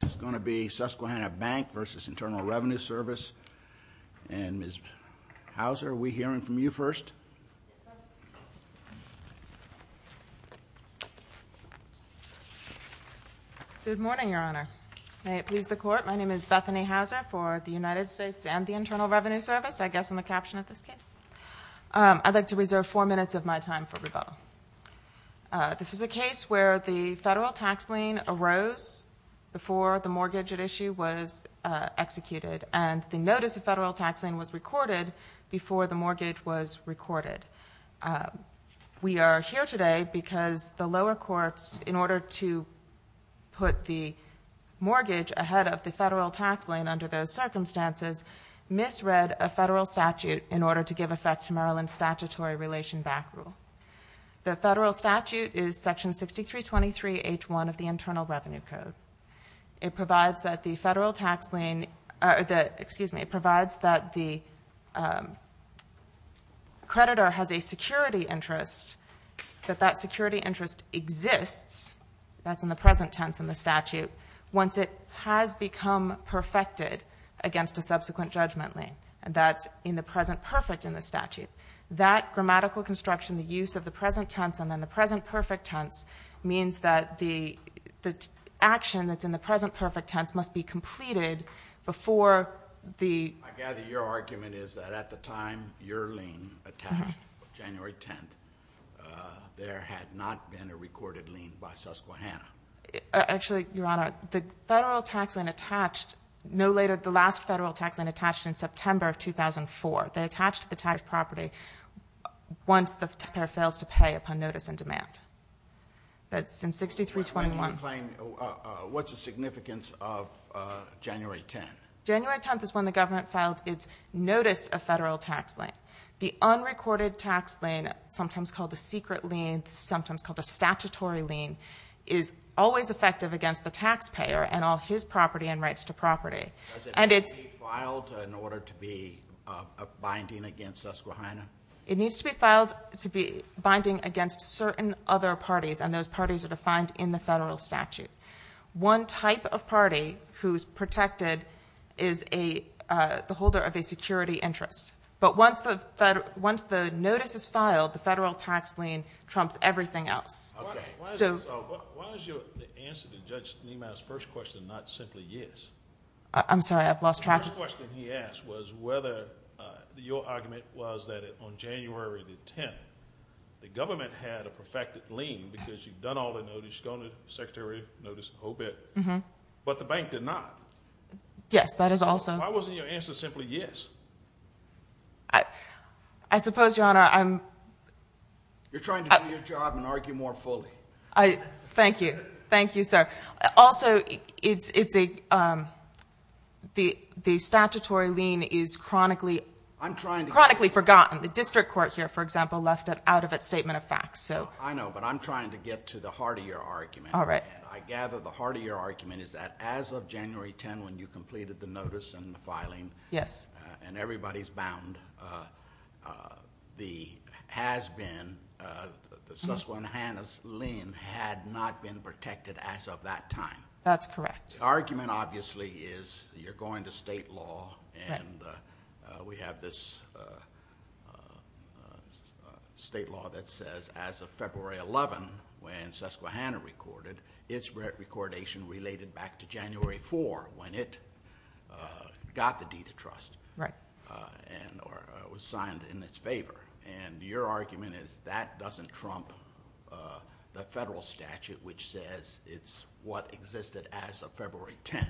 This is going to be Susquehanna Bank v. Internal Revenue Service. And Ms. Hauser, are we hearing from you first? Good morning, Your Honor. May it please the Court, my name is Bethany Hauser for the United States and the Internal Revenue Service, I guess in the caption of this case. I'd like to reserve four minutes of my time for rebuttal. This is a case where the federal tax lien arose before the mortgage at issue was executed and the notice of federal tax lien was recorded before the mortgage was recorded. We are here today because the lower courts, in order to put the mortgage ahead of the federal tax lien under those circumstances, misread a federal statute in order to give effect to The federal statute is section 6323 H1 of the Internal Revenue Code. It provides that the federal tax lien, excuse me, it provides that the creditor has a security interest, that that security interest exists, that's in the present tense in the statute, once it has become perfected against a subsequent judgment lien. That's in the present perfect in the statute. That grammatical construction, the use of the present tense and then the present perfect tense means that the action that's in the present perfect tense must be completed before the... I gather your argument is that at the time your lien attached, January 10th, there had not been a recorded lien by Susquehanna. Actually, Your Honor, the federal tax lien attached no later, the last federal tax lien attached in September of 2004. They attached to the tax property once the taxpayer fails to pay upon notice and demand. That's in 6321. Can you explain what's the significance of January 10th? January 10th is when the government filed its notice of federal tax lien. The unrecorded tax lien, sometimes called the secret lien, sometimes called the statutory lien, is always effective against the taxpayer and all his property and rights to property. Does it need to be filed in order to be binding against Susquehanna? It needs to be binding against certain other parties, and those parties are defined in the federal statute. One type of party who's protected is the holder of a security interest, but once the notice is filed, the federal tax lien trumps everything else. Why is the answer to Judge Niemeyer's first question not simply yes? I'm sorry, I've lost track. The first question he asked was whether your argument was that on January 10th, the government had a perfected lien because you've done all the notice, gone to the secretary, noticed the whole bit, but the bank did not. Yes, that is also... Why wasn't your answer simply yes? I suppose, Your Honor, I'm... You're trying to do your job and argue more fully. Thank you. Thank you, sir. Also, the statutory lien is chronically... I'm trying to get... Chronically forgotten. The district court here, for example, left it out of its statement of facts, so... I know, but I'm trying to get to the heart of your argument. All right. I gather the heart of your argument is that as of January 10th, when you completed the Susquehanna lien had not been protected as of that time. That's correct. The argument, obviously, is you're going to state law and we have this state law that says as of February 11th, when Susquehanna recorded, its recordation related back to January 4th, when it got the deed of trust. Right. It was signed in its favor. Your argument is that doesn't trump the federal statute which says it's what existed as of February 10th.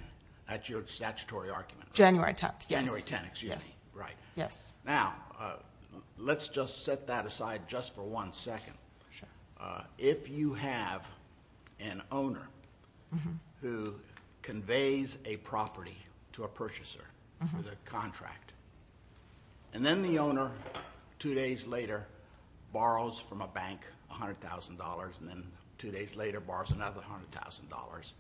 That's your statutory argument, right? January 10th, yes. January 10th, excuse me. Right. Yes. Now, let's just set that aside just for one second. Sure. If you have an owner who conveys a property to a purchaser, to the contract, and then the owner, two days later, borrows from a bank $100,000, and then two days later borrows another $100,000,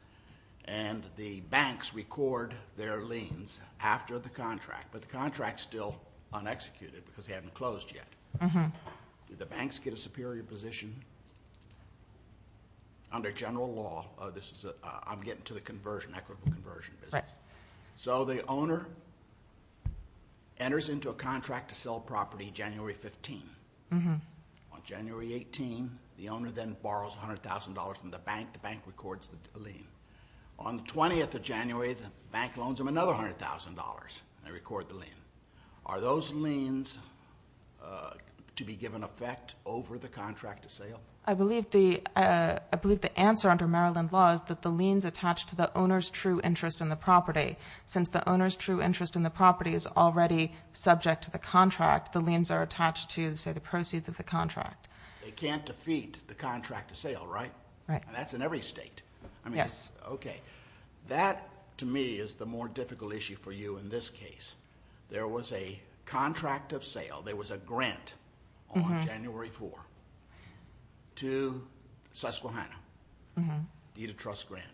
and the banks record their liens after the contract, but the contract is still unexecuted because they haven't closed yet. Do the banks get a superior position under general law? I'm getting to the conversion, equitable conversion business. Right. The owner enters into a contract to sell property January 15th. On January 18th, the owner then borrows $100,000 from the bank. The bank records the lien. On the 20th of January, the bank loans them another $100,000. They record the lien. Are those liens to be given effect over the contract to sale? I believe the answer under Maryland law is that the liens attach to the owner's true interest in the property. Since the owner's true interest in the property is already subject to the contract, the liens are attached to, say, the proceeds of the contract. They can't defeat the contract to sale, right? Right. That's in every state. Yes. Okay. That, to me, is the more difficult issue for you in this case. There was a contract of sale. There was a grant on January 4th to Susquehanna, deed of trust grant.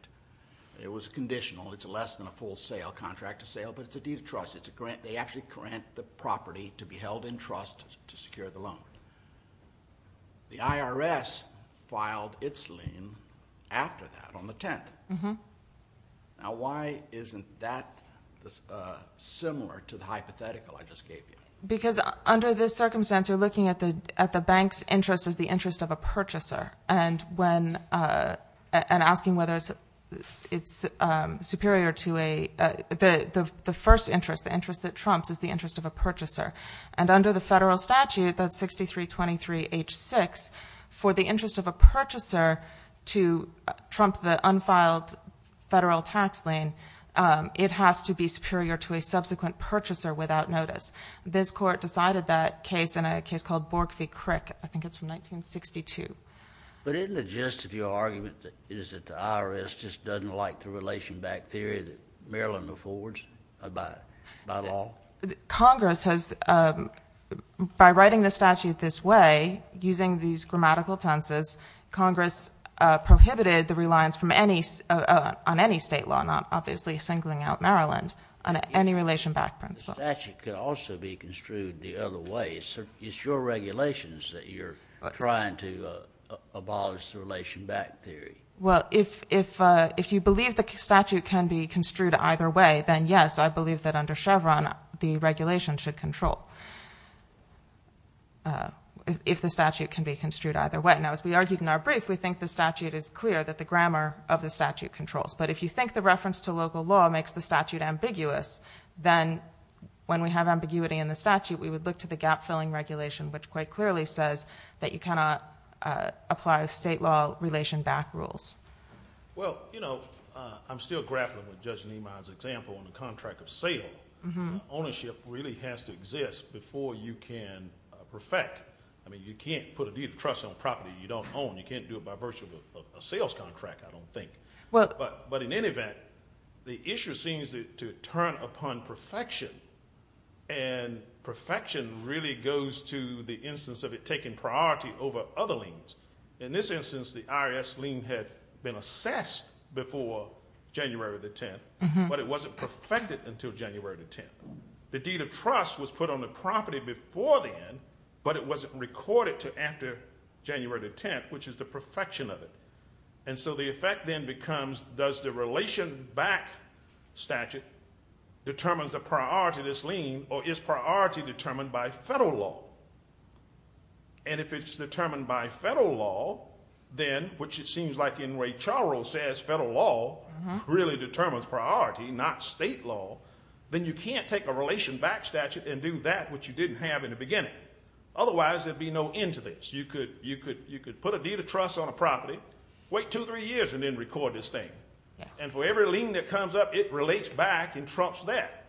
It was conditional. It's less than a full sale, contract of sale, but it's a deed of trust. It's a grant. They actually grant the property to be held in trust to secure the loan. The IRS filed its lien after that, on the 10th. Now, why isn't that similar to the hypothetical I just gave you? Because, under this circumstance, you're looking at the bank's interest as the interest of a purchaser and asking whether it's superior to a... The first interest, the interest that trumps, is the interest of a purchaser. Under the federal statute, that's 6323H6, for the interest of a purchaser to trump the unfiled federal tax lien, it has to be superior to a subsequent purchaser without notice. This court decided that case in a case called Bork v. Crick. I think it's from 1962. But isn't it just, if your argument is that the IRS just doesn't like the relation-backed theory that Maryland affords by law? Congress has, by writing the statute this way, using these grammatical tenses, Congress prohibited the reliance on any state law, not obviously singling out Maryland, on any relation-backed principle. The statute could also be construed the other way. It's your regulations that you're trying to abolish the relation-backed theory. Well, if you believe the statute can be construed either way, then yes, I believe that under Chevron, the regulation should control if the statute can be construed either way. Now, as we argued in our brief, we think the statute is clear, that the grammar of the statute controls. But if you think the reference to local law makes the statute ambiguous, then when we have ambiguity in the statute, we would look to the gap-filling regulation, which quite clearly says that you cannot apply state law relation-backed rules. Well, you know, I'm still grappling with Judge Niemeyer's example on the contract of sale. Ownership really has to exist before you can perfect. I mean, you can't put a deed of trust on property you don't own. You can't do it by virtue of a sales contract, I don't think. But in any event, the issue seems to turn upon perfection, and perfection really goes to the instance of it taking priority over other liens. In this instance, the IRS lien had been assessed before January the 10th, but it wasn't perfected until January the 10th. The deed of trust was put on the property before then, but it wasn't recorded until after January the 10th, which is the perfection of it. And so the effect then becomes, does the relation-backed statute determine the priority of this lien, or is priority determined by federal law? And if it's determined by federal law, then, which it seems like in Ray Charles says federal law really determines priority, not state law, then you can't take a relation-backed statute and do that which you didn't have in the beginning. Otherwise, there'd be no end to this. You could put a deed of trust on a property, wait two, three years, and then record this thing. And for every lien that comes up, it relates back and trumps that,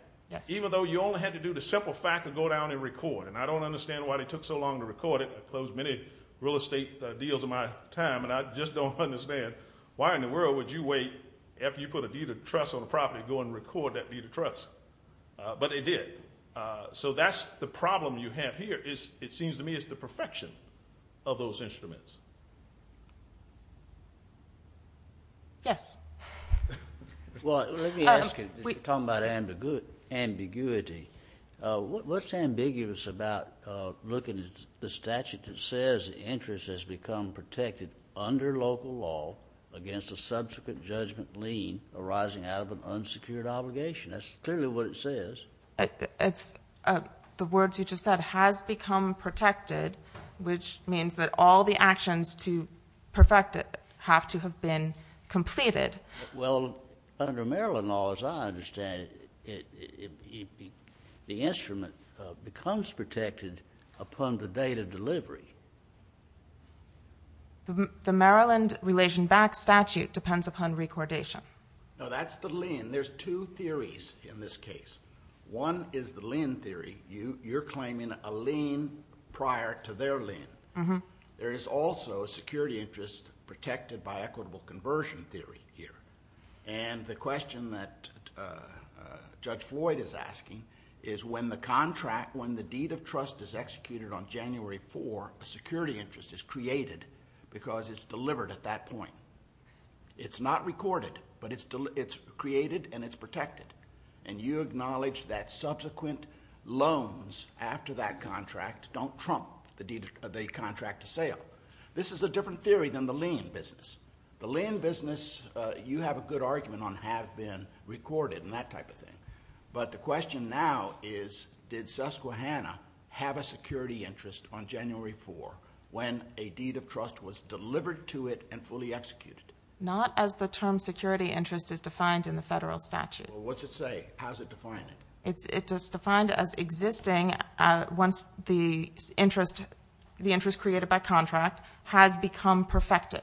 even though you only had to do the simple fact of go down and record. And I don't understand why they took so long to record it. I've closed many real estate deals in my time, and I just don't understand why in the world would you wait after you put a deed of trust on a property to go and record that deed of trust. But they did. So that's the problem you have here, it seems to me it's the perfection of those instruments. Yes. Well, let me ask you, talking about ambiguity, what's ambiguous about looking at the statute that says interest has become protected under local law against a subsequent judgment lien arising out of an unsecured obligation? That's clearly what it says. The words you just said, has become protected, which means that all the actions to perfect it have to have been completed. Well, under Maryland law, as I understand it, the instrument becomes protected upon the date of delivery. The Maryland Relation Back Statute depends upon recordation. No, that's the lien. There's two theories in this case. One is the lien theory. You're claiming a lien prior to their lien. There is also a security interest protected by equitable conversion theory here. And the question that Judge Floyd is asking is when the contract, when the deed of trust is executed on January 4, a security interest is created because it's delivered at that point. It's not recorded, but it's created and it's protected. And you acknowledge that subsequent loans after that contract don't trump the contract to sale. This is a different theory than the lien business. The lien business, you have a good argument on have been recorded and that type of thing. But the question now is did Susquehanna have a security interest on January 4 when a deed of trust was delivered to it and fully executed? Not as the term security interest is defined in the federal statute. What's it say? How's it defined? It's defined as existing once the interest created by contract has become perfected.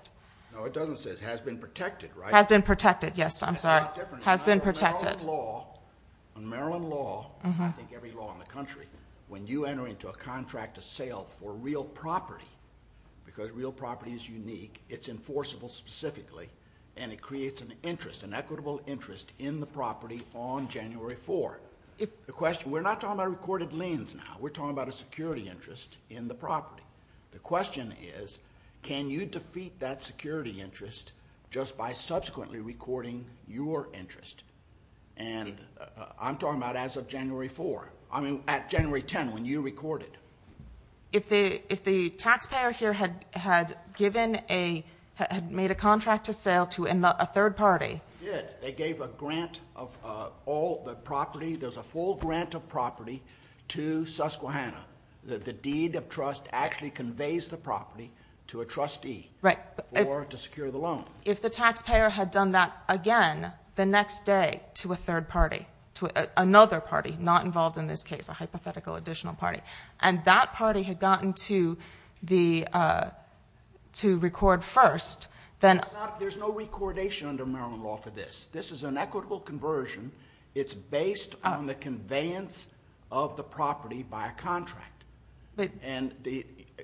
No, it doesn't say it has been protected, right? Has been protected, yes, I'm sorry. Has been protected. On Maryland law, I think every law in the country, when you enter into a contract to sale for real property, because real property is unique, it's enforceable specifically and it creates an interest, an equitable interest in the property on January 4. We're not talking about recorded liens now. We're talking about a security interest in the property. The question is can you defeat that security interest just by subsequently recording your interest? I'm talking about as of January 4. I mean at January 10 when you recorded. If the taxpayer here had made a contract to sale to a third party. They did. They gave a grant of all the property. There's a full grant of property to Susquehanna. The deed of trust actually conveys the property to a trustee or to secure the loan. If the taxpayer had done that again the next day to a third party, to another party, not involved in this case, a hypothetical additional party, and that party had gotten to record first, then... There's no recordation under Maryland law for this. This is an equitable conversion. It's based on the conveyance of the property by a contract.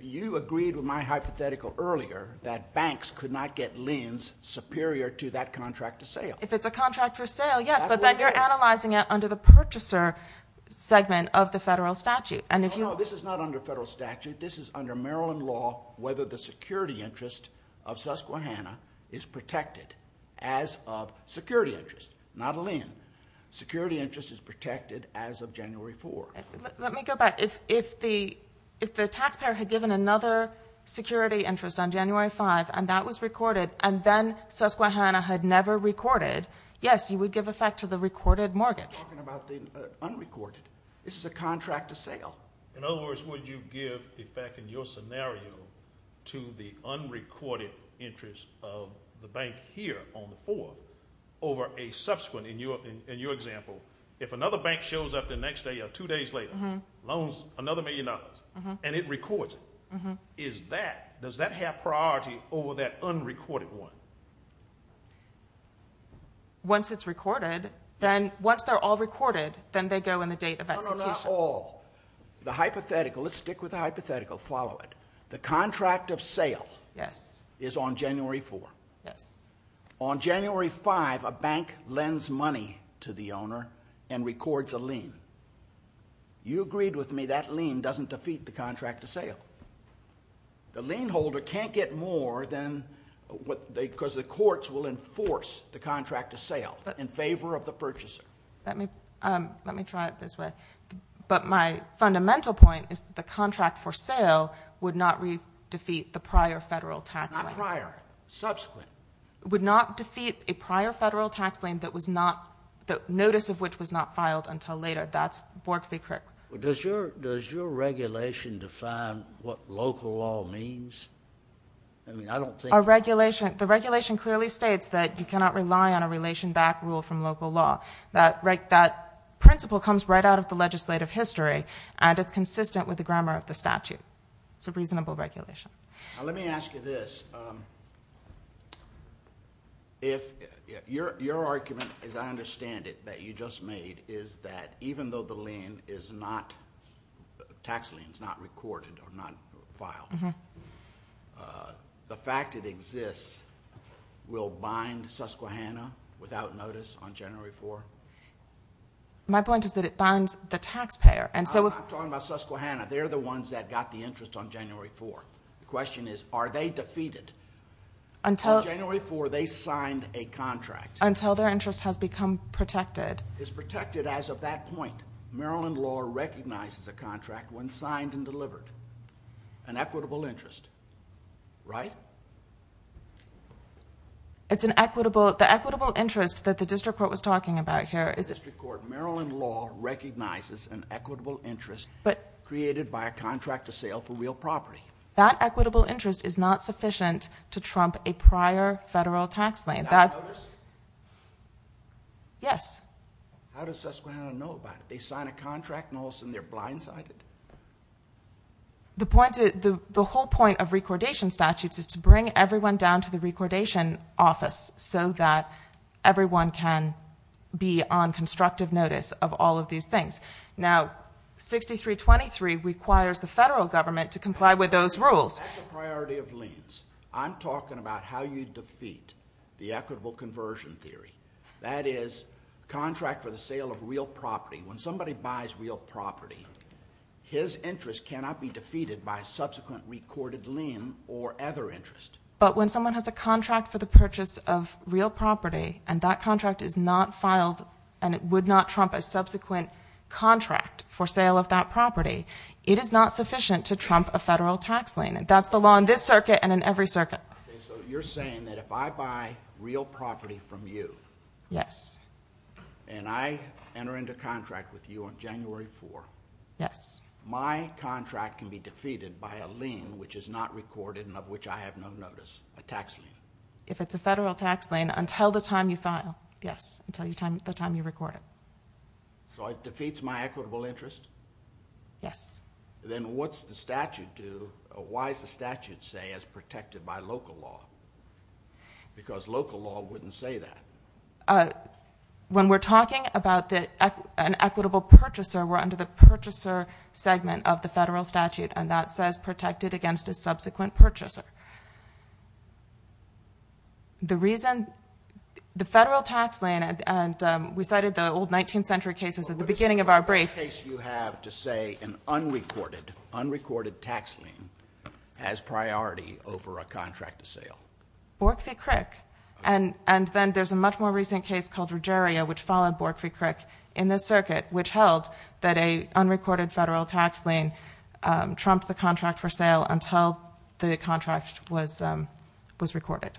You agreed with my hypothetical earlier that banks could not get lends superior to that contract to sale. If it's a contract for sale, yes, but then you're analyzing it under the purchaser segment of the federal statute. No, this is not under federal statute. This is under Maryland law whether the security interest of Susquehanna is protected as of security interest, not a lend. Security interest is protected as of January 4. Let me go back. If the taxpayer had given another security interest on January 5 and that was recorded and then Susquehanna had never recorded, yes, you would give effect to the recorded mortgage. Talking about the unrecorded. This is a contract to sale. In other words, would you give effect in your scenario to the unrecorded interest of the bank here on the 4th over a subsequent, in your example, if another bank shows up the next day or two days later, loans another million dollars and it records it, does that have priority over that unrecorded one? Once it's recorded, then once they're all recorded, then they go in the date of execution. The hypothetical, let's stick with the hypothetical, follow it. The contract of sale is on January 4. On January 5, a bank lends money to the owner and records a lien. You agreed with me that lien doesn't defeat the contract of sale. The lien holder can't get more than, because the courts will enforce the contract of sale in favor of the purchaser. Let me try it this way. My fundamental point is that the contract for sale would not defeat the prior federal tax lien. Not prior, subsequent. It would not defeat a prior federal tax lien that was not, the notice of which was not filed until later. That's Bork v. Crick. Does your regulation define what local law means? I mean, I don't think... The regulation clearly states that you cannot rely on a relation-backed rule from local law. That principle comes right out of the legislative history and it's consistent with the grammar of the statute. It's a reasonable regulation. Let me ask you this. Your argument, as I understand it, that you just made, is that even though the tax lien is not recorded or not filed, the fact it exists will bind Susquehanna without notice on January 4? My point is that it binds the taxpayer. I'm talking about Susquehanna. They're the ones that got the interest on January 4. The question is, are they defeated? Until... On January 4, they signed a contract. Until their interest has become protected. It's protected as of that point. Maryland law recognizes a contract when signed and delivered. An equitable interest. Right? It's an equitable... The equitable interest that the district court was talking about here... Maryland law recognizes an equitable interest created by a contract to sale for real property. That equitable interest is not sufficient to trump a prior federal tax lien. Without notice? Yes. How does Susquehanna know about it? They sign a contract and all of a sudden they're blindsided? The whole point of recordation statutes is to bring everyone down to the recordation office so that everyone can be on constructive notice of all of these things. Now, 6323 requires the federal government to comply with those rules. That's a priority of liens. I'm talking about how you defeat the equitable conversion theory. That is, contract for the sale of real property. When somebody buys real property, his interest cannot be defeated by subsequent recorded lien or other interest. But when someone has a contract for the purchase of real property and that contract is not filed and it would not trump a subsequent contract for sale of that property, it is not sufficient to trump a federal tax lien. That's the law in this circuit and in every circuit. You're saying that if I buy real property from you and I enter into contract with you on January 4, my contract can be defeated by a lien which is not recorded and of which I have no notice, a tax lien. If it's a federal tax lien, until the time you file, yes, until the time you record it. So it defeats my equitable interest? Yes. Then what's the statute do? Why does the statute say it's protected by local law? Because local law wouldn't say that. When we're talking about an equitable purchaser, we're under the purchaser segment of the federal statute and that says it's protected against a subsequent purchaser. The reason the federal tax lien and we cited the old 19th century cases at the beginning of our brief. What is the case you have to say an unrecorded tax lien has priority over a contract to sale? Bork v. Crick. And then there's a much more recent case called Regeria which followed Bork v. Crick in this circuit which held that an unrecorded federal tax lien trumped the contract for sale until the contract was recorded.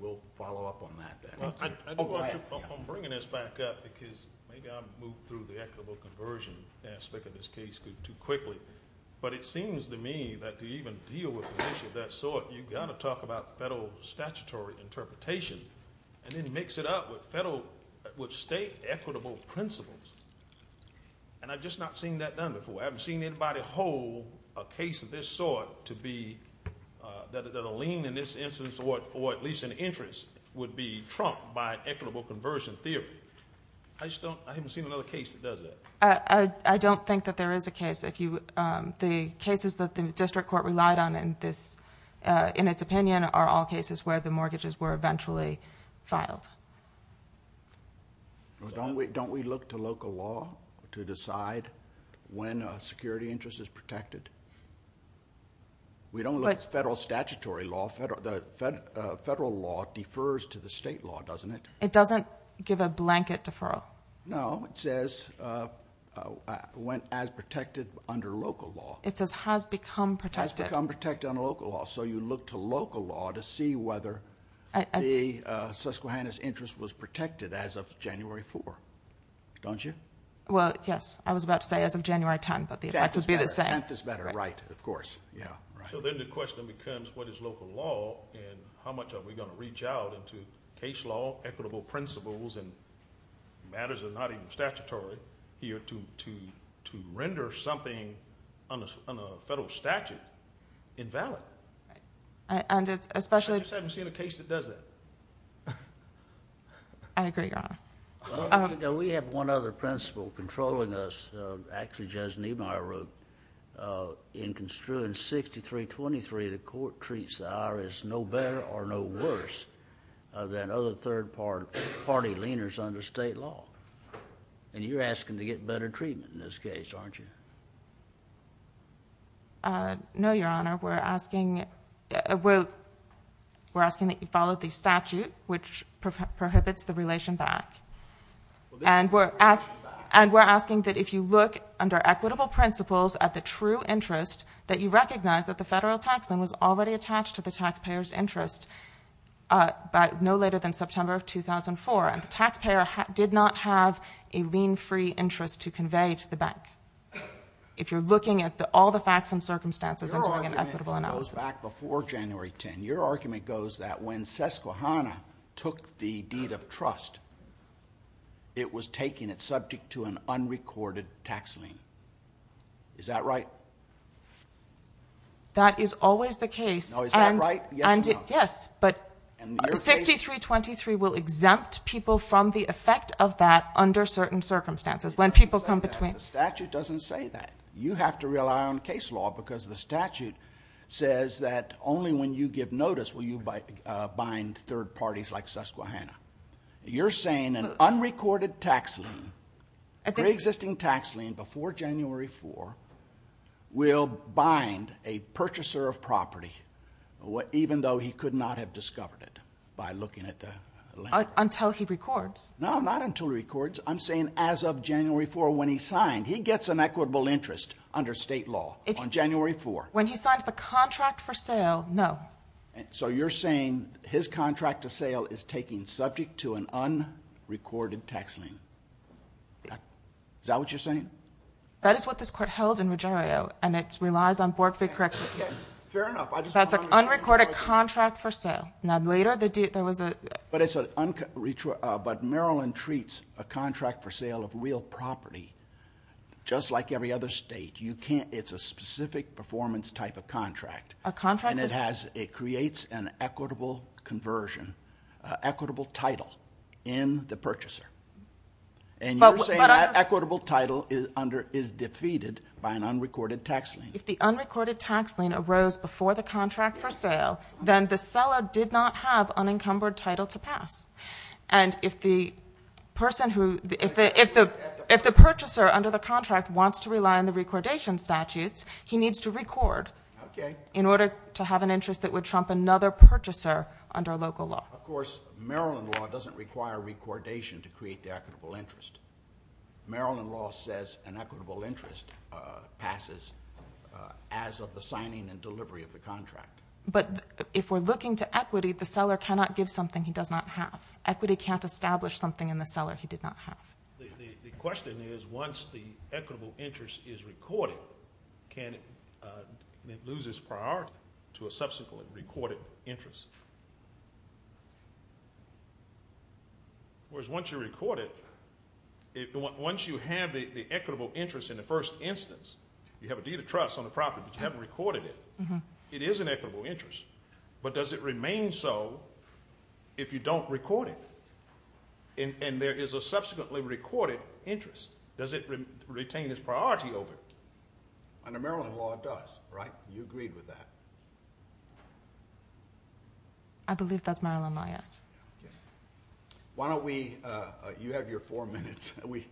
We'll follow up on that. I'm bringing this back up because maybe I moved through the equitable conversion aspect of this case too quickly. But it seems to me that to even deal with an issue of that sort, you've got to talk about federal statutory interpretation and then mix it up with state equitable principles. And I've just not seen that done before. I haven't seen anybody hold a case of this sort to be that a lien in this instance or at least an interest would be trumped by an equitable conversion theory. I haven't seen another case that does that. I don't think that there is a case. The cases that the District Court relied on in its opinion are all cases where the mortgages were eventually filed. Don't we look to local law to decide when a security interest is protected? We don't look at federal statutory law. Federal law defers to the state law, doesn't it? It doesn't give a blanket deferral. No, it says when as protected under local law. It says has become protected. Has become protected under local law. So you look to local law to see whether the Susquehanna's interest was protected as of January 4th. Don't you? I was about to say as of January 10th. 10th is better, right. So then the question becomes what is local law and how much are we going to reach out into case law, equitable principles and matters that are not even statutory to render something on a federal statute invalid. I just haven't seen a case that does that. I agree, Your Honor. We have one other principle controlling us actually Judge Niemeyer wrote in Construance 63 23 the court treats the IRS no better or no worse than other third party leaners under state law. And you're asking to get better treatment in this case, aren't you? No, Your Honor. We're asking that you follow the statute which prohibits the relation back. And we're asking that if you look under equitable principles at the true interest that you recognize that the federal tax was already attached to the taxpayer's interest no later than September 2004 and the taxpayer did not have a lean free interest to convey to the bank. If you're looking at all the facts and circumstances Your argument goes back before January 10. Your argument goes that when SESQAHANA took the deed of trust it was taking it subject to an unrecorded tax lien. Is that right? That is always the case. No, is that right? Yes or no? Yes, but 63 23 will exempt people from the effect of that under certain circumstances when people come between. No, the statute doesn't say that. You have to rely on case law because the statute says that only when you give notice will you bind third parties like SESQAHANA. You're saying an unrecorded tax lien pre-existing tax lien before January 4 will bind a purchaser of property even though he could not have discovered it by looking at the land. Until he records. No, not until he records. I'm saying as of January 4 when he signed. He gets an equitable interest under state law on January 4. When he signs the contract for sale, no. So you're saying his contract of sale is taking subject to an unrecorded tax lien. Is that what you're saying? That is what this court held in Ruggiero and it relies on Bork v. Corrections. That's an unrecorded contract for sale. Now later there was a But Maryland treats a contract for sale of real property just like every other state. It's a specific performance type of contract. A contract that creates an equitable conversion, equitable title in the purchaser. And you're saying that equitable title is defeated by an unrecorded tax lien. If the unrecorded tax lien arose before the contract for sale, then the seller did not have unencumbered title to pass. And if the purchaser under the contract wants to rely on the recordation statutes he needs to record in order to have an interest that would trump another purchaser under local law. Of course, Maryland law doesn't require recordation to create the equitable interest. Maryland law says an equitable interest passes as of the signing and delivery of the contract. But if we're looking to equity the seller cannot give something he does not have. Equity can't establish something in the seller he did not have. The question is once the equitable interest is recorded can it lose its priority to a subsequently recorded interest? Whereas once you record it once you have the equitable interest in the first instance you have a deed of trust on the property but you haven't recorded it. Does it remain so if you don't record it and there is a subsequently recorded interest, does it retain its priority over it? Under Maryland law it does, right? You agreed with that. I believe that's Maryland law, yes. Why don't we you have your four minutes. We've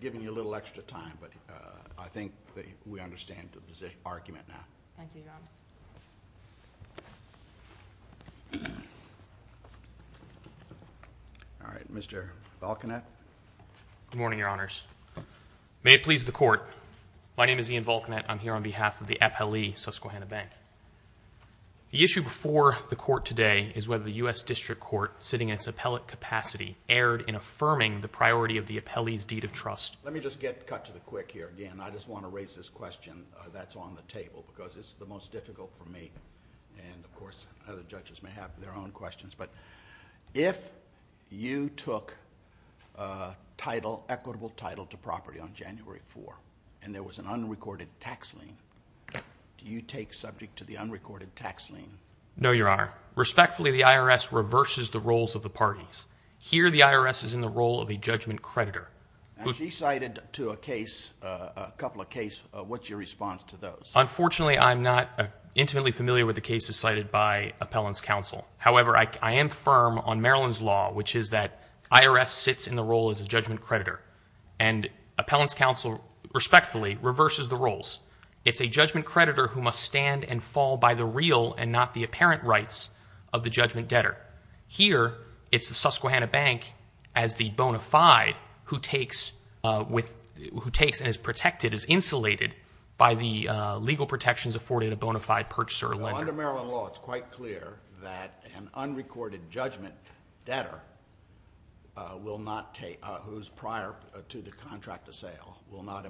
given you a little extra time but I think we understand the argument now. Mr. Volkanet. Good morning, Your Honors. May it please the Court. My name is Ian Volkanet. I'm here on behalf of the Appellee Susquehanna Bank. The issue before the Court today is whether the U.S. District Court sitting in its appellate capacity erred in affirming the priority of the Appellee's deed of trust. Let me just get cut to the quick here again. I just want to raise this question that's on the table because it's the most difficult for me and of course other judges may have their own questions. If you took equitable title to property on January 4 and there was an unrecorded tax lien, do you take subject to the unrecorded tax lien? No, Your Honor. Respectfully, the IRS reverses the roles of the parties. Here the IRS is in the role of a judgment creditor. She cited to a case a couple of cases. What's your response to those? Unfortunately, I'm not intimately familiar with the cases cited by Appellant's Counsel. However, I am firm on Maryland's law which is that IRS sits in the role as a judgment creditor and Appellant's Counsel, respectfully, reverses the roles. It's a judgment creditor who must stand and fall by the real and not the apparent rights of the judgment debtor. Here it's the Susquehanna Bank as the bona fide who takes and is protected, is insulated by the legal protections afforded a bona fide purchaser or lender. Under Maryland law it's quite clear that an unrecorded judgment debtor will not take who's prior to the contract of sale will not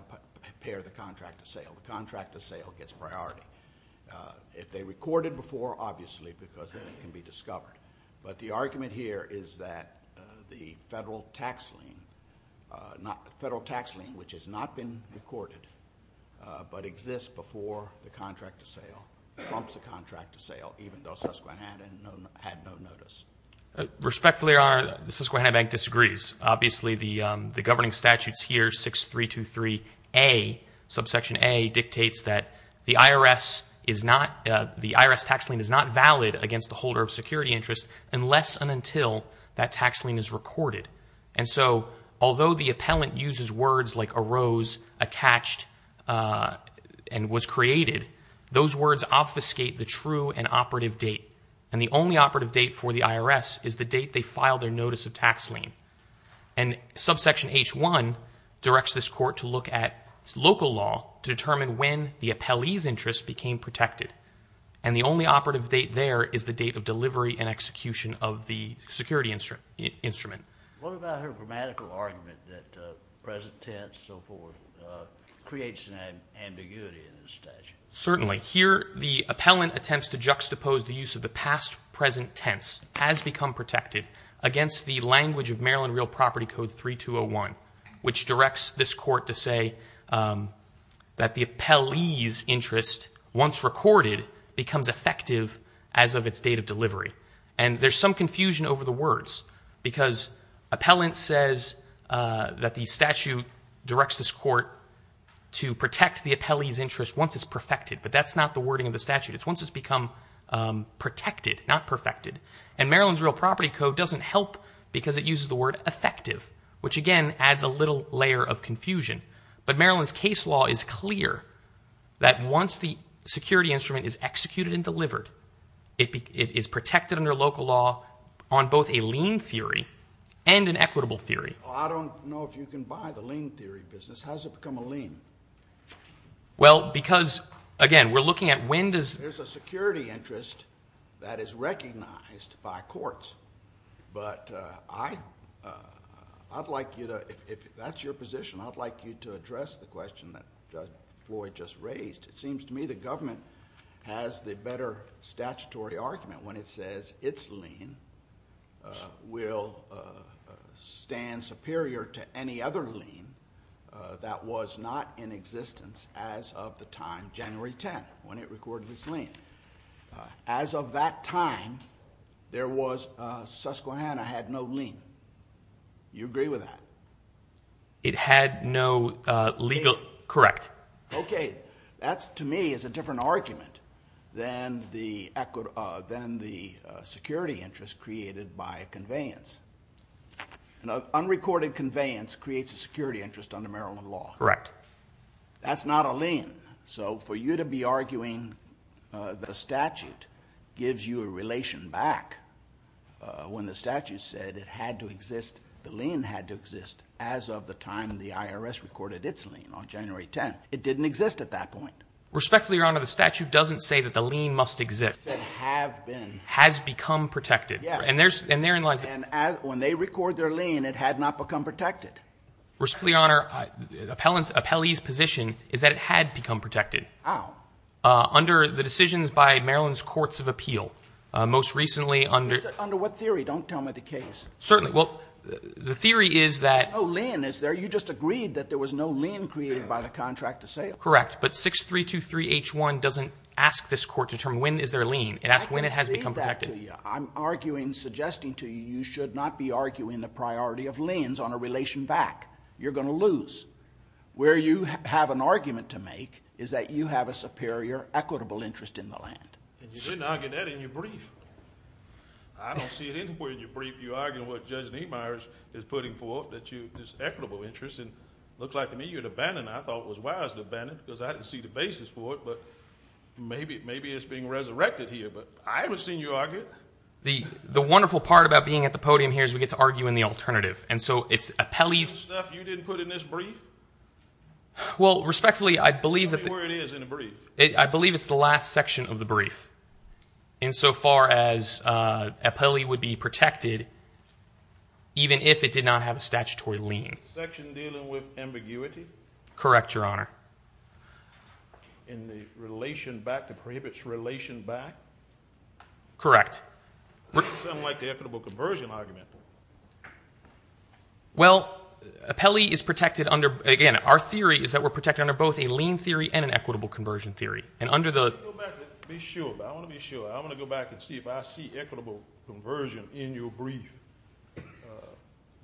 impair the contract of sale. The contract of sale gets priority. If they recorded before, obviously, because then it can be discovered. But the argument here is that the federal tax lien which has not been recorded but exists before the contract of sale trumps the contract of sale even though Susquehanna had no notice. Respectfully, Your Honor, the Susquehanna Bank disagrees. Obviously the governing statutes here 6323A dictates that the IRS tax lien is not valid against the holder of security interest unless and until that tax lien is recorded. Although the appellant uses words like arose, attached, and was created, those words obfuscate the true and operative date. The only operative date for the IRS is the date they filed their notice of tax lien. Subsection H1 directs this court to look at local law to determine when the appellee's interest became protected. And the only operative date there is the date of delivery and execution of the security instrument. What about her grammatical argument that present tense creates an ambiguity in the statute? Certainly. Here the appellant attempts to juxtapose the use of the past-present tense as become protected against the language of Maryland Real Property Code 3201 which directs this court to say that the appellee's interest, once recorded, becomes effective as of its date of delivery. And there's some confusion over the words because appellant says that the statute directs this court to protect the appellee's interest once it's perfected. But that's not the wording of the statute. It's once it's become protected, not perfected. And Maryland's Real Property Code doesn't help because it uses the word effective which again adds a little layer of confusion. But Maryland's case law is clear that once the security instrument is executed and delivered, it is protected under local law on both a lien theory and an equitable theory. Well, I don't know if you can buy the lien theory business. How's it become a lien? Well, because again, we're looking at when does... There's a security interest that is recognized by courts. But I'd like you to, if that's your position, I'd like you to address the question that Floyd just raised. It seems to me the government has the better statutory argument when it says its lien will stand superior to any other lien that was not in existence as of the time January 10th when it recorded its lien. As of that time, Susquehanna had no lien. You agree with that? It had no legal... Correct. Okay. That's to me is a different argument than the security interest created by conveyance. Unrecorded conveyance creates a security interest under Maryland law. Correct. That's not a lien. So for you to be arguing that a statute gives you a relation back when the statute said it had to exist, the lien had to exist as of the time the IRS recorded its lien on January 10th. It didn't exist at that point. Respectfully, Your Honor, the statute doesn't say that the lien must exist. It said have been. Has become protected. And therein lies... And when they record their lien, it had not become protected. Respectfully, Your Honor, appellee's position is that it had become protected. How? Under the decisions by Maryland's courts of appeal. Most recently under... Under what theory? Don't tell me the case. Certainly. Well, the theory is that... There's no lien, is there? You just agreed that there was no lien created by the contract of sale. Correct. But 6323 H1 doesn't ask this court to determine when is there a lien. It asks when it has become protected. I'm arguing, suggesting to you, you should not be arguing the priority of liens on a relation back. You're going to lose. Where you have an argument to make is that you have a superior, equitable interest in the land. And you didn't argue that in your brief. I don't see it anywhere in your brief you argue what Judge Neimeyer is putting forth, that you... This equitable interest in... Looks like to me you had abandoned what I thought was wise to abandon because I didn't see the basis for it, but maybe it's being resurrected here, but I haven't seen you argue it. The wonderful part about being at the podium here is we get to argue in the alternative. And so it's appellee's... Stuff you didn't put in this brief? Well, respectfully, I believe that... Tell me where it is in the brief. I believe it's the last section of the brief. In so far as appellee would be protected even if it did not have a statutory lien. Section dealing with ambiguity? Correct, Your Honor. In the relation back, the prohibits relation back? Correct. Sounds like the equitable conversion argument. Well, appellee is protected under... Again, our theory is that we're protected under both a lien theory and an equitable conversion theory. And under the... I want to be sure. I want to go back and see if I see equitable conversion in your brief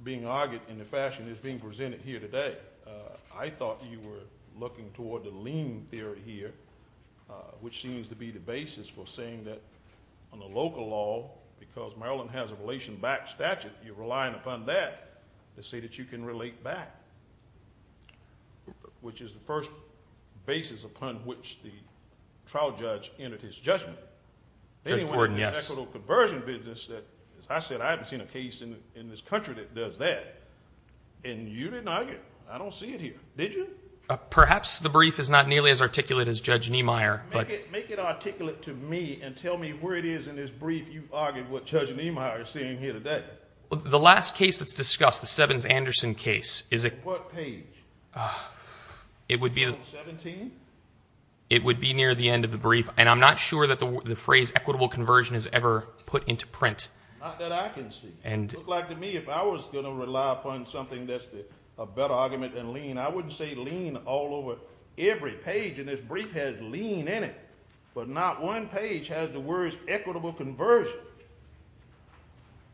being argued in the fashion that's being presented here today. I thought you were looking toward the lien theory here, which seems to be the basis for saying that on the local law, because Maryland has a relation back statute, you're relying upon that to say that you can relate back. Which is the first basis upon which the trial judge entered his judgment. Judge Gordon, yes. The equitable conversion business, as I said, I haven't seen a case in this country that does that. And you didn't argue. I don't see it here. Did you? Perhaps the brief is not nearly as articulate as Judge Niemeyer. Make it articulate to me and tell me where it is in this brief you argued what Judge Niemeyer is saying here today. The last case that's discussed, the What page? 17? It would be near the end of the brief. And I'm not sure that the phrase equitable conversion is ever put into print. Not that I can see. If I was going to rely upon something that's a better argument than lien, I wouldn't say lien all over every page in this brief has lien in it. But not one page has the words equitable conversion.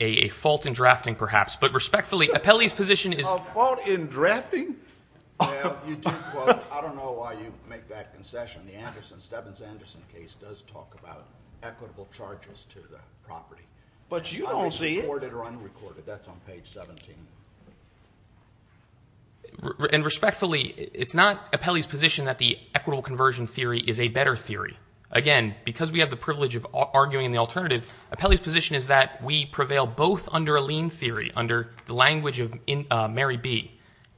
A fault in drafting, perhaps. But respectfully, Apelli's position is A fault in drafting? I don't know why you make that concession. The Stebbins-Anderson case does talk about equitable charges to the property. But you don't see it. That's on page 17. And respectfully, it's not Apelli's position that the equitable conversion theory is a better theory. Again, because we have the privilege of arguing in the alternative, Apelli's position is that we prevail both under a lien theory, under the language of Mary B.,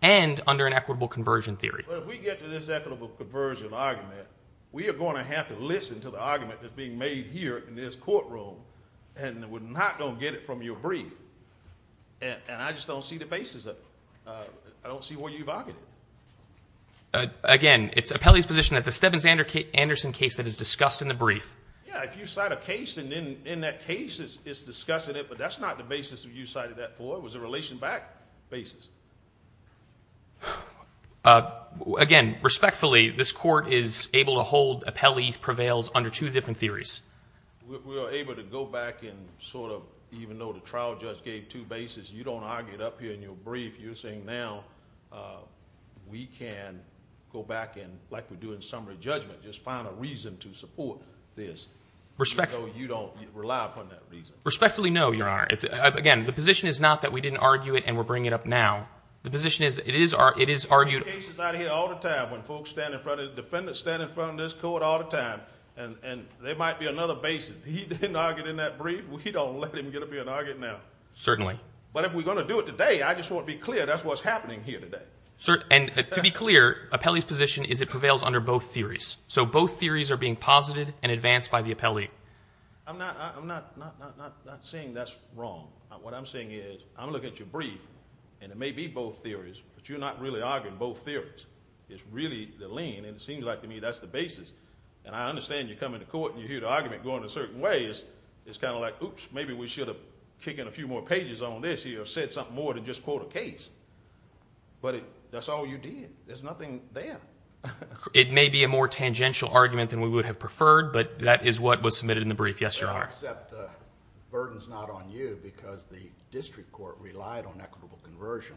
and under an equitable conversion theory. But if we get to this equitable conversion argument, we are going to have to listen to the argument that's being made here in this courtroom, and we're not going to get it from your brief. And I just don't see the basis of it. I don't see where you've argued it. Again, it's Apelli's position that the Stebbins-Anderson case that is discussed in the brief... Yeah, if you cite a case, and in that case it's discussing it, but that's not the basis that you cited that for. It was a relation-backed basis. Again, respectfully, this Court is able to hold Apelli prevails under two different theories. We are able to go back and sort of, even though the trial judge gave two bases, you don't argue it up here in your brief. You're saying now we can go back and, like we do in summary judgment, just find a reason to support this. You don't rely upon that reason. Respectfully, no, you are. Again, the position is not that we didn't argue it and we're bringing it up now. The position is it is argued... When folks stand in front of, defendants stand in front of this Court all the time, there might be another basis. He didn't argue it in that brief, we don't let him get up here and argue it now. Certainly. But if we're going to do it today, I just want to be clear, that's what's happening here today. To be clear, Apelli's position is it prevails under both theories. So both theories are being posited and advanced by the Apelli. I'm not saying that's wrong. What I'm saying is, I'm looking at your brief and it may be both theories, but you're not really arguing both theories. It's really the lien and it seems like to me that's the basis. And I understand you're coming to court and you hear the argument going a certain way. It's kind of like, oops, maybe we should have taken a few more pages on this or said something more than just quote a case. But that's all you did. There's nothing there. It may be a more tangential argument than we would have preferred, but that is what was submitted in the brief. Yes, Your Honor. Except the burden's not on you because the district court relied on equitable conversion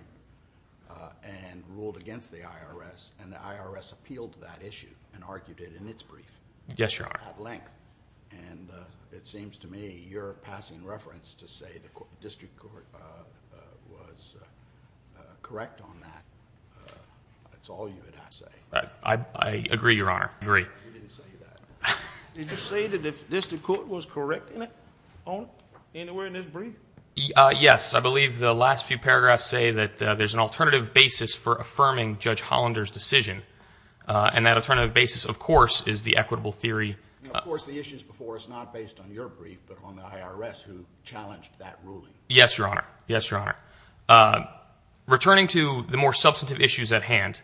and ruled against the IRS and the IRS appealed to that issue and argued it in its brief. Yes, Your Honor. At length. It seems to me you're passing reference to say the district court was correct on that. That's all you had to say. I agree, Your Honor. You didn't say that. Did you say that the district court was correct on it anywhere in this brief? Yes. I believe the last few paragraphs say that there's an alternative basis for affirming Judge Hollander's decision. And that alternative basis, of course, is the equitable theory. Of course, the issues before us are not based on your brief, but on the IRS who challenged that ruling. Yes, Your Honor. Yes, Your Honor. Returning to the more substantive issues at hand,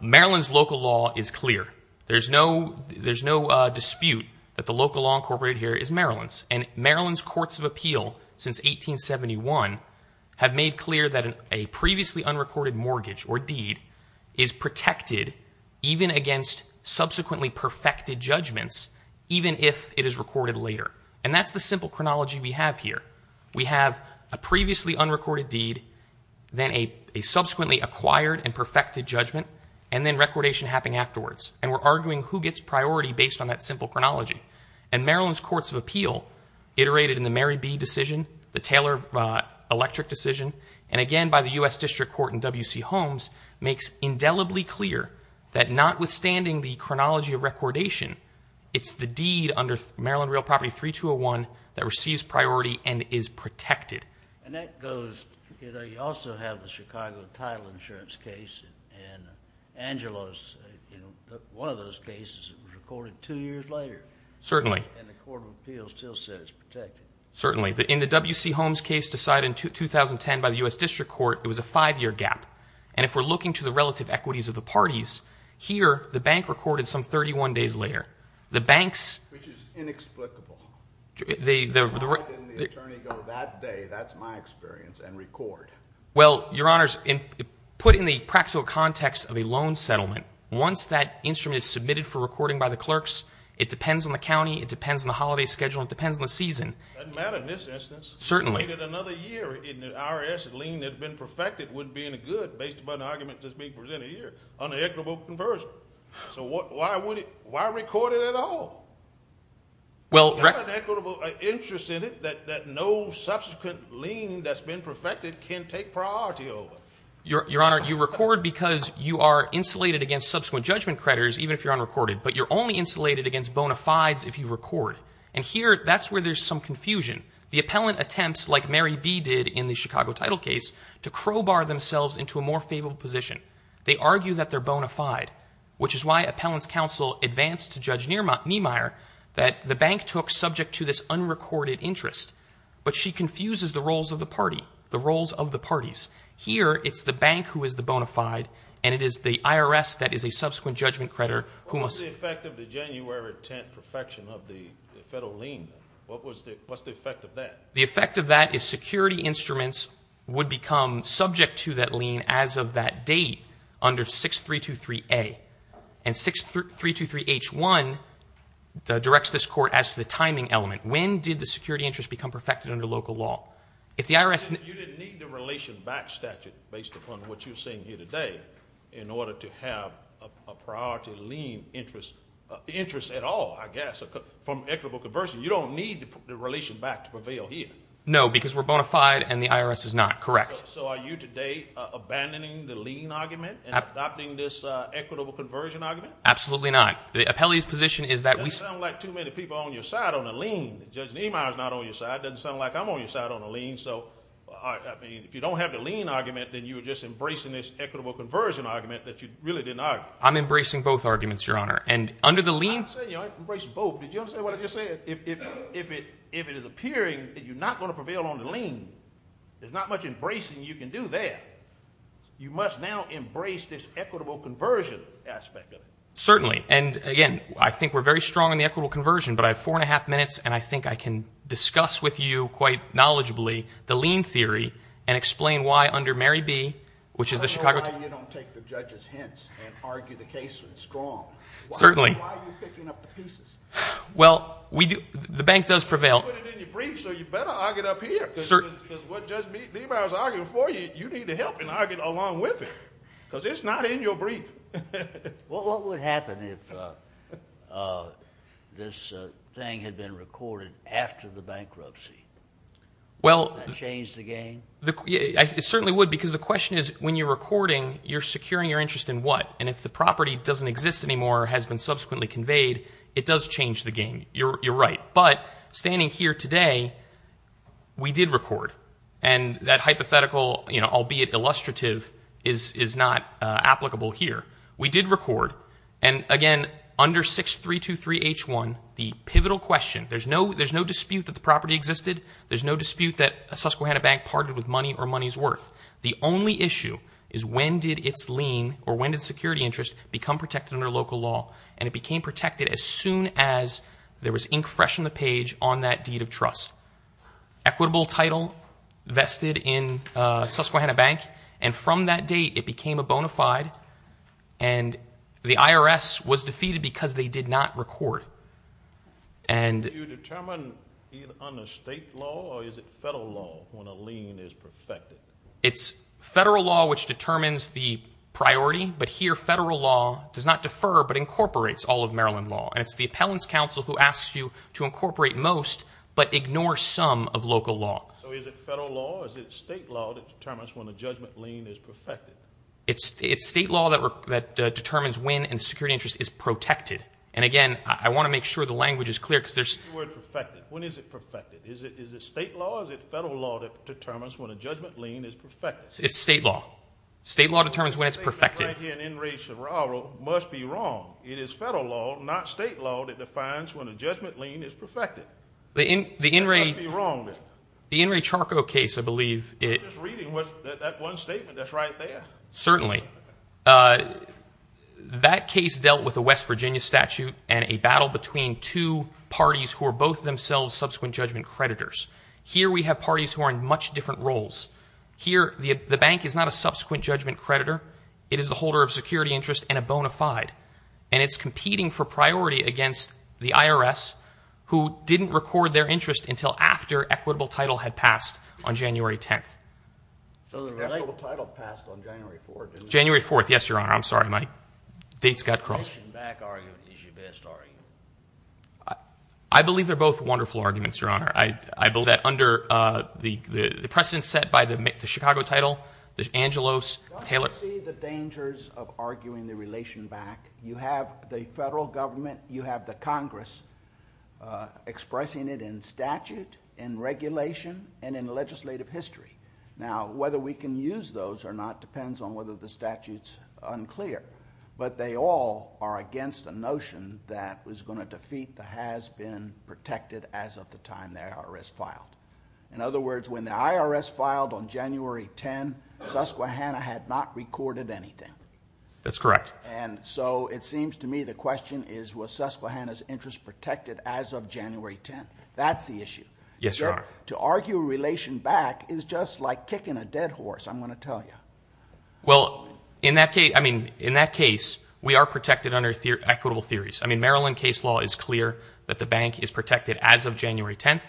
Maryland's local law is clear. There's no dispute that the local law incorporated here is Maryland's. And Maryland's Courts of Appeal since 1871 have made clear that a previously unrecorded mortgage or deed is protected even against subsequently perfected judgments, even if it is recorded later. And that's the simple chronology we have here. We have a previously unrecorded deed, then a subsequently acquired and perfected judgment, and then recordation happening afterwards. And we're arguing who gets priority based on that simple chronology. And Maryland's Courts of Appeal, iterated in the Mary B. decision, the Taylor Electric decision, and again by the U.S. District Court in W.C. Holmes, makes indelibly clear that notwithstanding the chronology of recordation, it's the deed under Maryland Real Property 3201 that receives priority and is protected. And that goes, you know, you also have the Chicago Title Insurance case and Angelo's, you know, one of those cases was recorded two years later. And the Court of Appeal still says it's protected. Certainly. In the W.C. Holmes case decided in 2010 by the U.S. District Court, it was a five-year gap. And if we're looking to the relative equities of the parties, here, the bank recorded some 31 days later. The banks... Which is inexplicable. Why didn't the attorney go that day, that's my experience, and record? Well, Your Honors, put in the practical context of a loan settlement, once that instrument is submitted for recording by the clerks, it depends on the county, it depends on the holiday schedule, it depends on the season. Doesn't matter in this instance. Certainly. If we waited another year and the IRS lien had been perfected, it wouldn't be any good, based upon the argument just being presented here, unequitable conversion. So why would it... Why record it at all? It's got an equitable interest in it that no subsequent lien that's been perfected can take priority over. Your Honor, you record because you are insulated against subsequent judgment creditors, even if you're unrecorded, but you're only insulated against bona fides if you record. And here, that's where there's some confusion. The appellant attempts, like Mary B. did in the Chicago title case, to crowbar themselves into a more favorable position. They argue that they're bona fide, which is why appellant's counsel advanced to Judge Niemeyer that the bank took subject to this unrecorded interest. But she confuses the roles of the party, the roles of the parties. Here, it's the bank who is the bona fide, and it is the IRS that is a subsequent judgment creditor who must... What's the effect of the January 10th perfection of the federal lien? What's the effect of that? The effect of that is security instruments would become subject to that lien as of that date under 6323A. And 6323H1 directs this court as to the timing element. When did the security interest become perfected under local law? If the IRS... You didn't need the relation back statute, based upon what you're saying here today, in order to have a priority lien interest, interest at all, I guess, from equitable conversion. You don't need the relation back to prevail here. No, because we're bona fide and the IRS is not. Correct. So are you today abandoning the lien argument and adopting this equitable conversion argument? Absolutely not. The appellee's position is that we... Doesn't sound like too many people on your side on a lien. Judge Niemeyer's not on your side. Doesn't sound like I'm on your side on a lien. So, I mean, if you don't have the lien argument, then you're just embracing this equitable conversion argument that you really didn't argue. I'm embracing both arguments, Your Honor. And under the lien... I'm not saying you're not embracing both. Did you understand what I just said? If it is appearing that you're not going to prevail on the lien, there's not much embracing you can do there. You must now embrace this equitable conversion aspect of it. Certainly, and again, I think we're very strong on the equitable conversion, but I have four and a half minutes, and I think I can discuss with you quite knowledgeably the lien theory and explain why under Mary B., which is the Chicago... I don't know why you don't take the judge's hints and argue the case strong. Certainly. Why are you picking up the pieces? Well, we do... The bank does prevail. You put it in your brief, so you better argue it up here. Because what Judge Niebuhr is arguing for you, you need to help him argue along with it. Because it's not in your brief. What would happen if this thing had been recorded after the bankruptcy? Would that change the game? It certainly would, because the question is when you're recording, you're securing your interest in what? And if the property doesn't exist anymore or has been subsequently conveyed, it does change the game. You're right. But, standing here today, we did record. And that hypothetical, albeit illustrative, is not applicable here. We did record, and again, under 6323H1, the pivotal question... There's no dispute that the property existed. There's no dispute that Susquehanna Bank parted with money or money's worth. The only issue is when did its lien or when did security interest become protected under local law? And it became protected as soon as there was ink fresh on the page on that deed of trust. Equitable title vested in Susquehanna Bank, and from that date, it became a bona fide, and the IRS was defeated because they did not record. Do you determine either under state law or is it federal law when a lien is perfected? It's federal law which determines the priority, but here, federal law does not defer, but incorporates all of Maryland law. And it's the appellant's counsel who asks you to incorporate most, but ignore some of local law. So is it federal law, or is it state law that determines when a judgment lien is perfected? It's state law that determines when a security interest is protected. And again, I want to make sure the language is clear, because there's... When is the word perfected? When is it perfected? Is it state law or is it federal law that determines when a judgment lien is perfected? It's state law. State law determines when it's perfected. The statement right here in In re Charco must be wrong. It is federal law, not state law, that defines when a judgment lien is perfected. That must be wrong then. The In re Charco case, I believe... I'm just reading that one statement that's right there. Certainly. That case dealt with a West Virginia statute and a battle between two parties who are both themselves subsequent judgment creditors. Here we have parties who are in much different roles. Here, the bank is not a subsequent judgment creditor. It is the holder of security interest and a bona fide. And it's competing for priority against the IRS who didn't record their interest until after equitable title had passed on January 10th. So the equitable title passed on January 4th, didn't it? January 4th. Yes, Your Honor. I'm sorry, Mike. Dates got crossed. The back argument is your best argument. I believe they're both wonderful arguments, Your Honor. I believe that under the precedent set by the Chicago title, Angelos, Taylor... Don't you see the dangers of arguing the relation back? You have the federal government, you have the Congress expressing it in statute, in regulation, and in legislative history. Now, whether we can use those or not depends on whether the statute's unclear. But they all are against a notion that is going to defeat the has-been protected as of the time the IRS filed. In other words, when the IRS filed on January 10th, Susquehanna had not recorded anything. That's correct. And so it seems to me the question is, was Susquehanna's interest protected as of January 10th? That's the issue. Yes, Your Honor. To argue relation back is just like kicking a dead horse, I'm going to tell you. Well, in that case, we are protected under equitable theories. I mean, Maryland case law is clear that the bank is protected as of January 10th,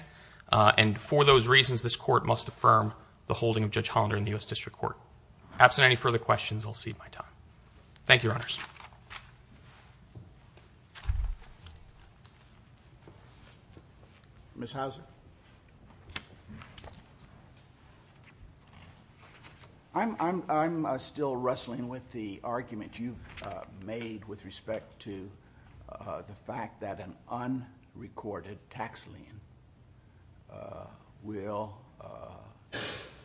and for those reasons, this Court must affirm the holding of Judge Hollander in the U.S. District Court. Perhaps in any further questions, I'll cede my time. Thank you, Your Honors. Ms. Hauser. I'm still wrestling with the argument you've made with respect to the fact that an unrecorded tax lien will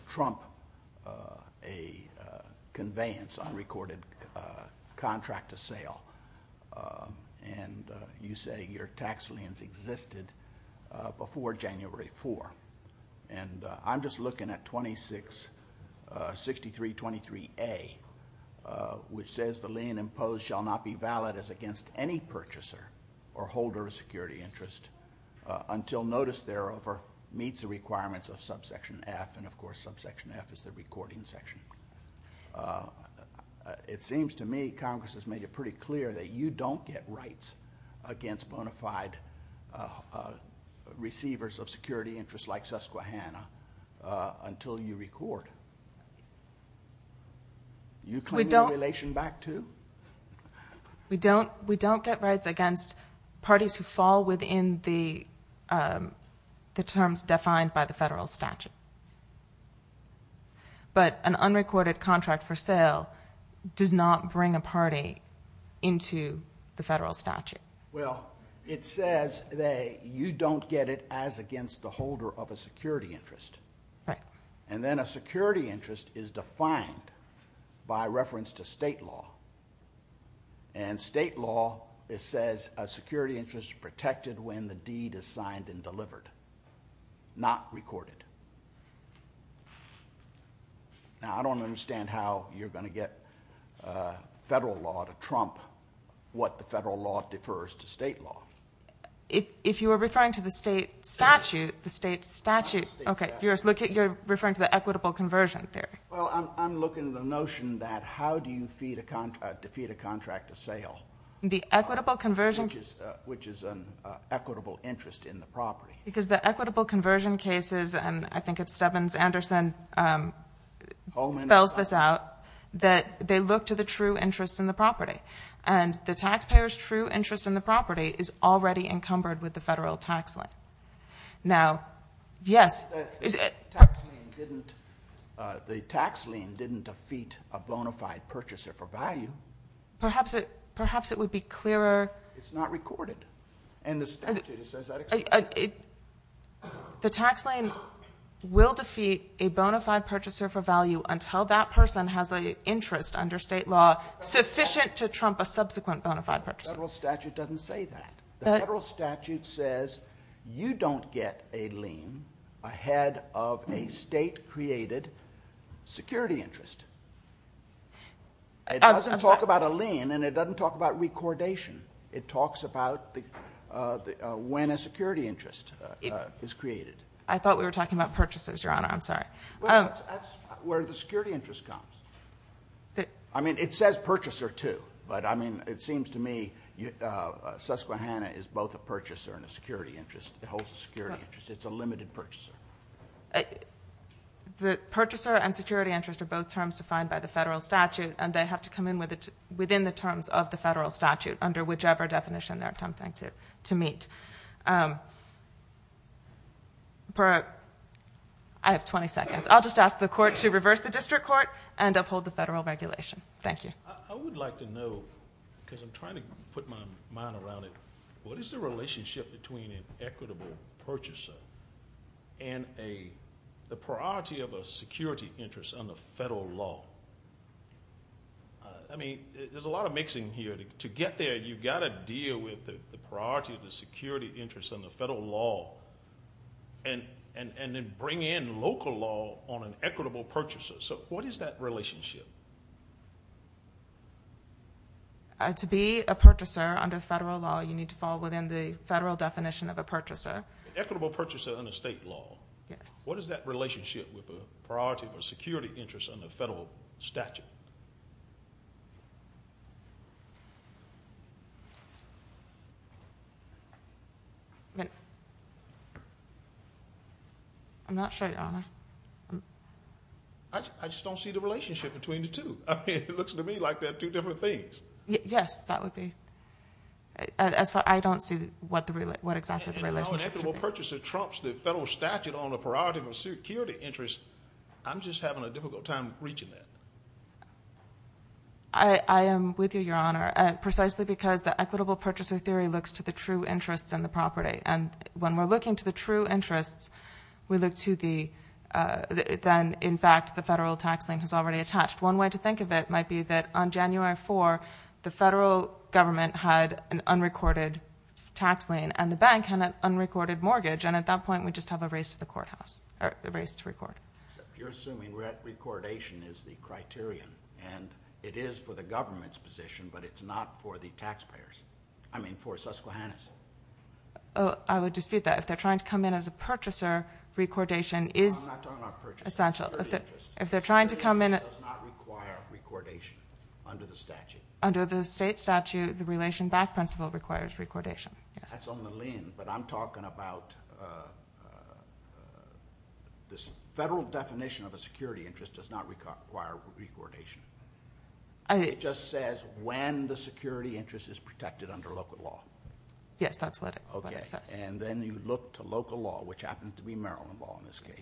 trump a conveyance, unrecorded contract to sale. And you say your tax liens existed before January 4th. And I'm just looking at 26, 6323A, which says the lien imposed shall not be valid as against any purchaser or holder of security interest until notice thereof meets the requirements of subsection F, and of course, subsection F is the recording section. It seems to me Congress has made it pretty clear that you don't get rights against bona fide receivers of security interest like Susquehanna until you record. You claim the relation back to? We don't get rights against parties who fall within the terms defined by the federal statute. But an unrecorded contract for sale does not bring a party into the federal statute. It says that you don't get it as against the holder of a security interest. And then a security interest is defined by reference to state law. And state law, it says a security interest is protected when the deed is signed and delivered. Not recorded. Now, I don't understand how you're going to get federal law to trump what the federal law defers to state law. If you were referring to the state statute, you're referring to the equitable conversion theory. Well, I'm looking at the notion that how do you defeat a contract of sale? Which is an equitable interest in the property. Because the equitable conversion cases, and I think it's Stebbins-Anderson spells this out, that they look to the true interest in the property. And the taxpayer's true interest in the property is already encumbered with the federal tax lien. Now, yes. The tax lien didn't defeat a bona fide purchaser for value. Perhaps it would be clearer. It's not recorded. The tax lien will defeat a bona fide purchaser for value until that person has an interest under state law sufficient to trump a subsequent bona fide purchaser. The federal statute doesn't say that. The federal statute says you don't get a lien ahead of a state created security interest. It doesn't talk about a lien, and it doesn't talk about recordation. It talks about when a security interest is created. I thought we were talking about purchases, Your Honor. I'm sorry. That's where the security interest comes. I mean, it says purchaser too, but it seems to me Susquehanna is both a purchaser and a security interest. It holds a security interest. It's a limited purchaser. The purchaser and security interest are both terms defined by the federal statute, and they have to come in within the terms of the federal statute under whichever definition they're attempting to meet. I have 20 seconds. I'll just ask the court to reverse the district court and uphold the federal regulation. Thank you. I would like to know, because I'm trying to put my mind around it, what is the relationship between an equitable purchaser and the priority of a security interest under federal law? There's a lot of mixing here. To get there, you've got to deal with the priority of the security interest under federal law, and then bring in local law on an equitable purchaser. What is that relationship? To be a purchaser under federal law, you need to fall within the federal definition of a purchaser. Equitable purchaser under state law. What is that relationship with the priority of a security interest under federal statute? I'm not sure, Your Honor. I just don't see the relationship between the two. It looks to me like they're two different things. Yes, that would be. I don't see what exactly the relationship should be. An equitable purchaser trumps the federal statute on the priority of a security interest. I'm just having a difficult time reaching that. I am with you, Your Honor. Precisely because the equitable purchaser theory looks to the true interests and the property. When we're looking to the true interests, we look to the then, in fact, the federal tax lien has already attached. One way to think of it might be that on January 4, the federal government had an unrecorded tax lien and the bank had an unrecorded mortgage. At that point, we just have a race to the courthouse. A race to record. You're assuming that recordation is the criterion. It is for the government's position, but it's not for the taxpayers. I mean for Susquehanna's. I would dispute that. If they're trying to come in as a purchaser, recordation is essential. If they're trying to come in... Under the state statute, the relation back principle requires recordation. That's on the lien, but I'm talking about this federal definition of a security interest does not require recordation. It just says when the security interest is protected under local law. Yes, that's what it says. Then you look to local law, which is recorded,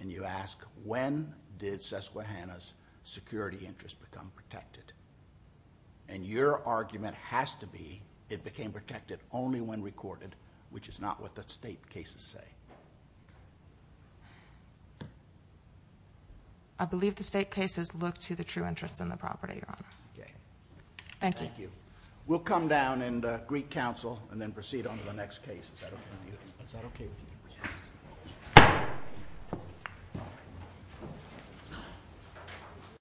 and you ask when did Susquehanna's security interest become protected? Your argument has to be it became protected only when recorded, which is not what the state cases say. I believe the state cases look to the true interest in the property, Your Honor. Thank you. We'll come down and greet counsel and then proceed on to the next case. Is that okay with you?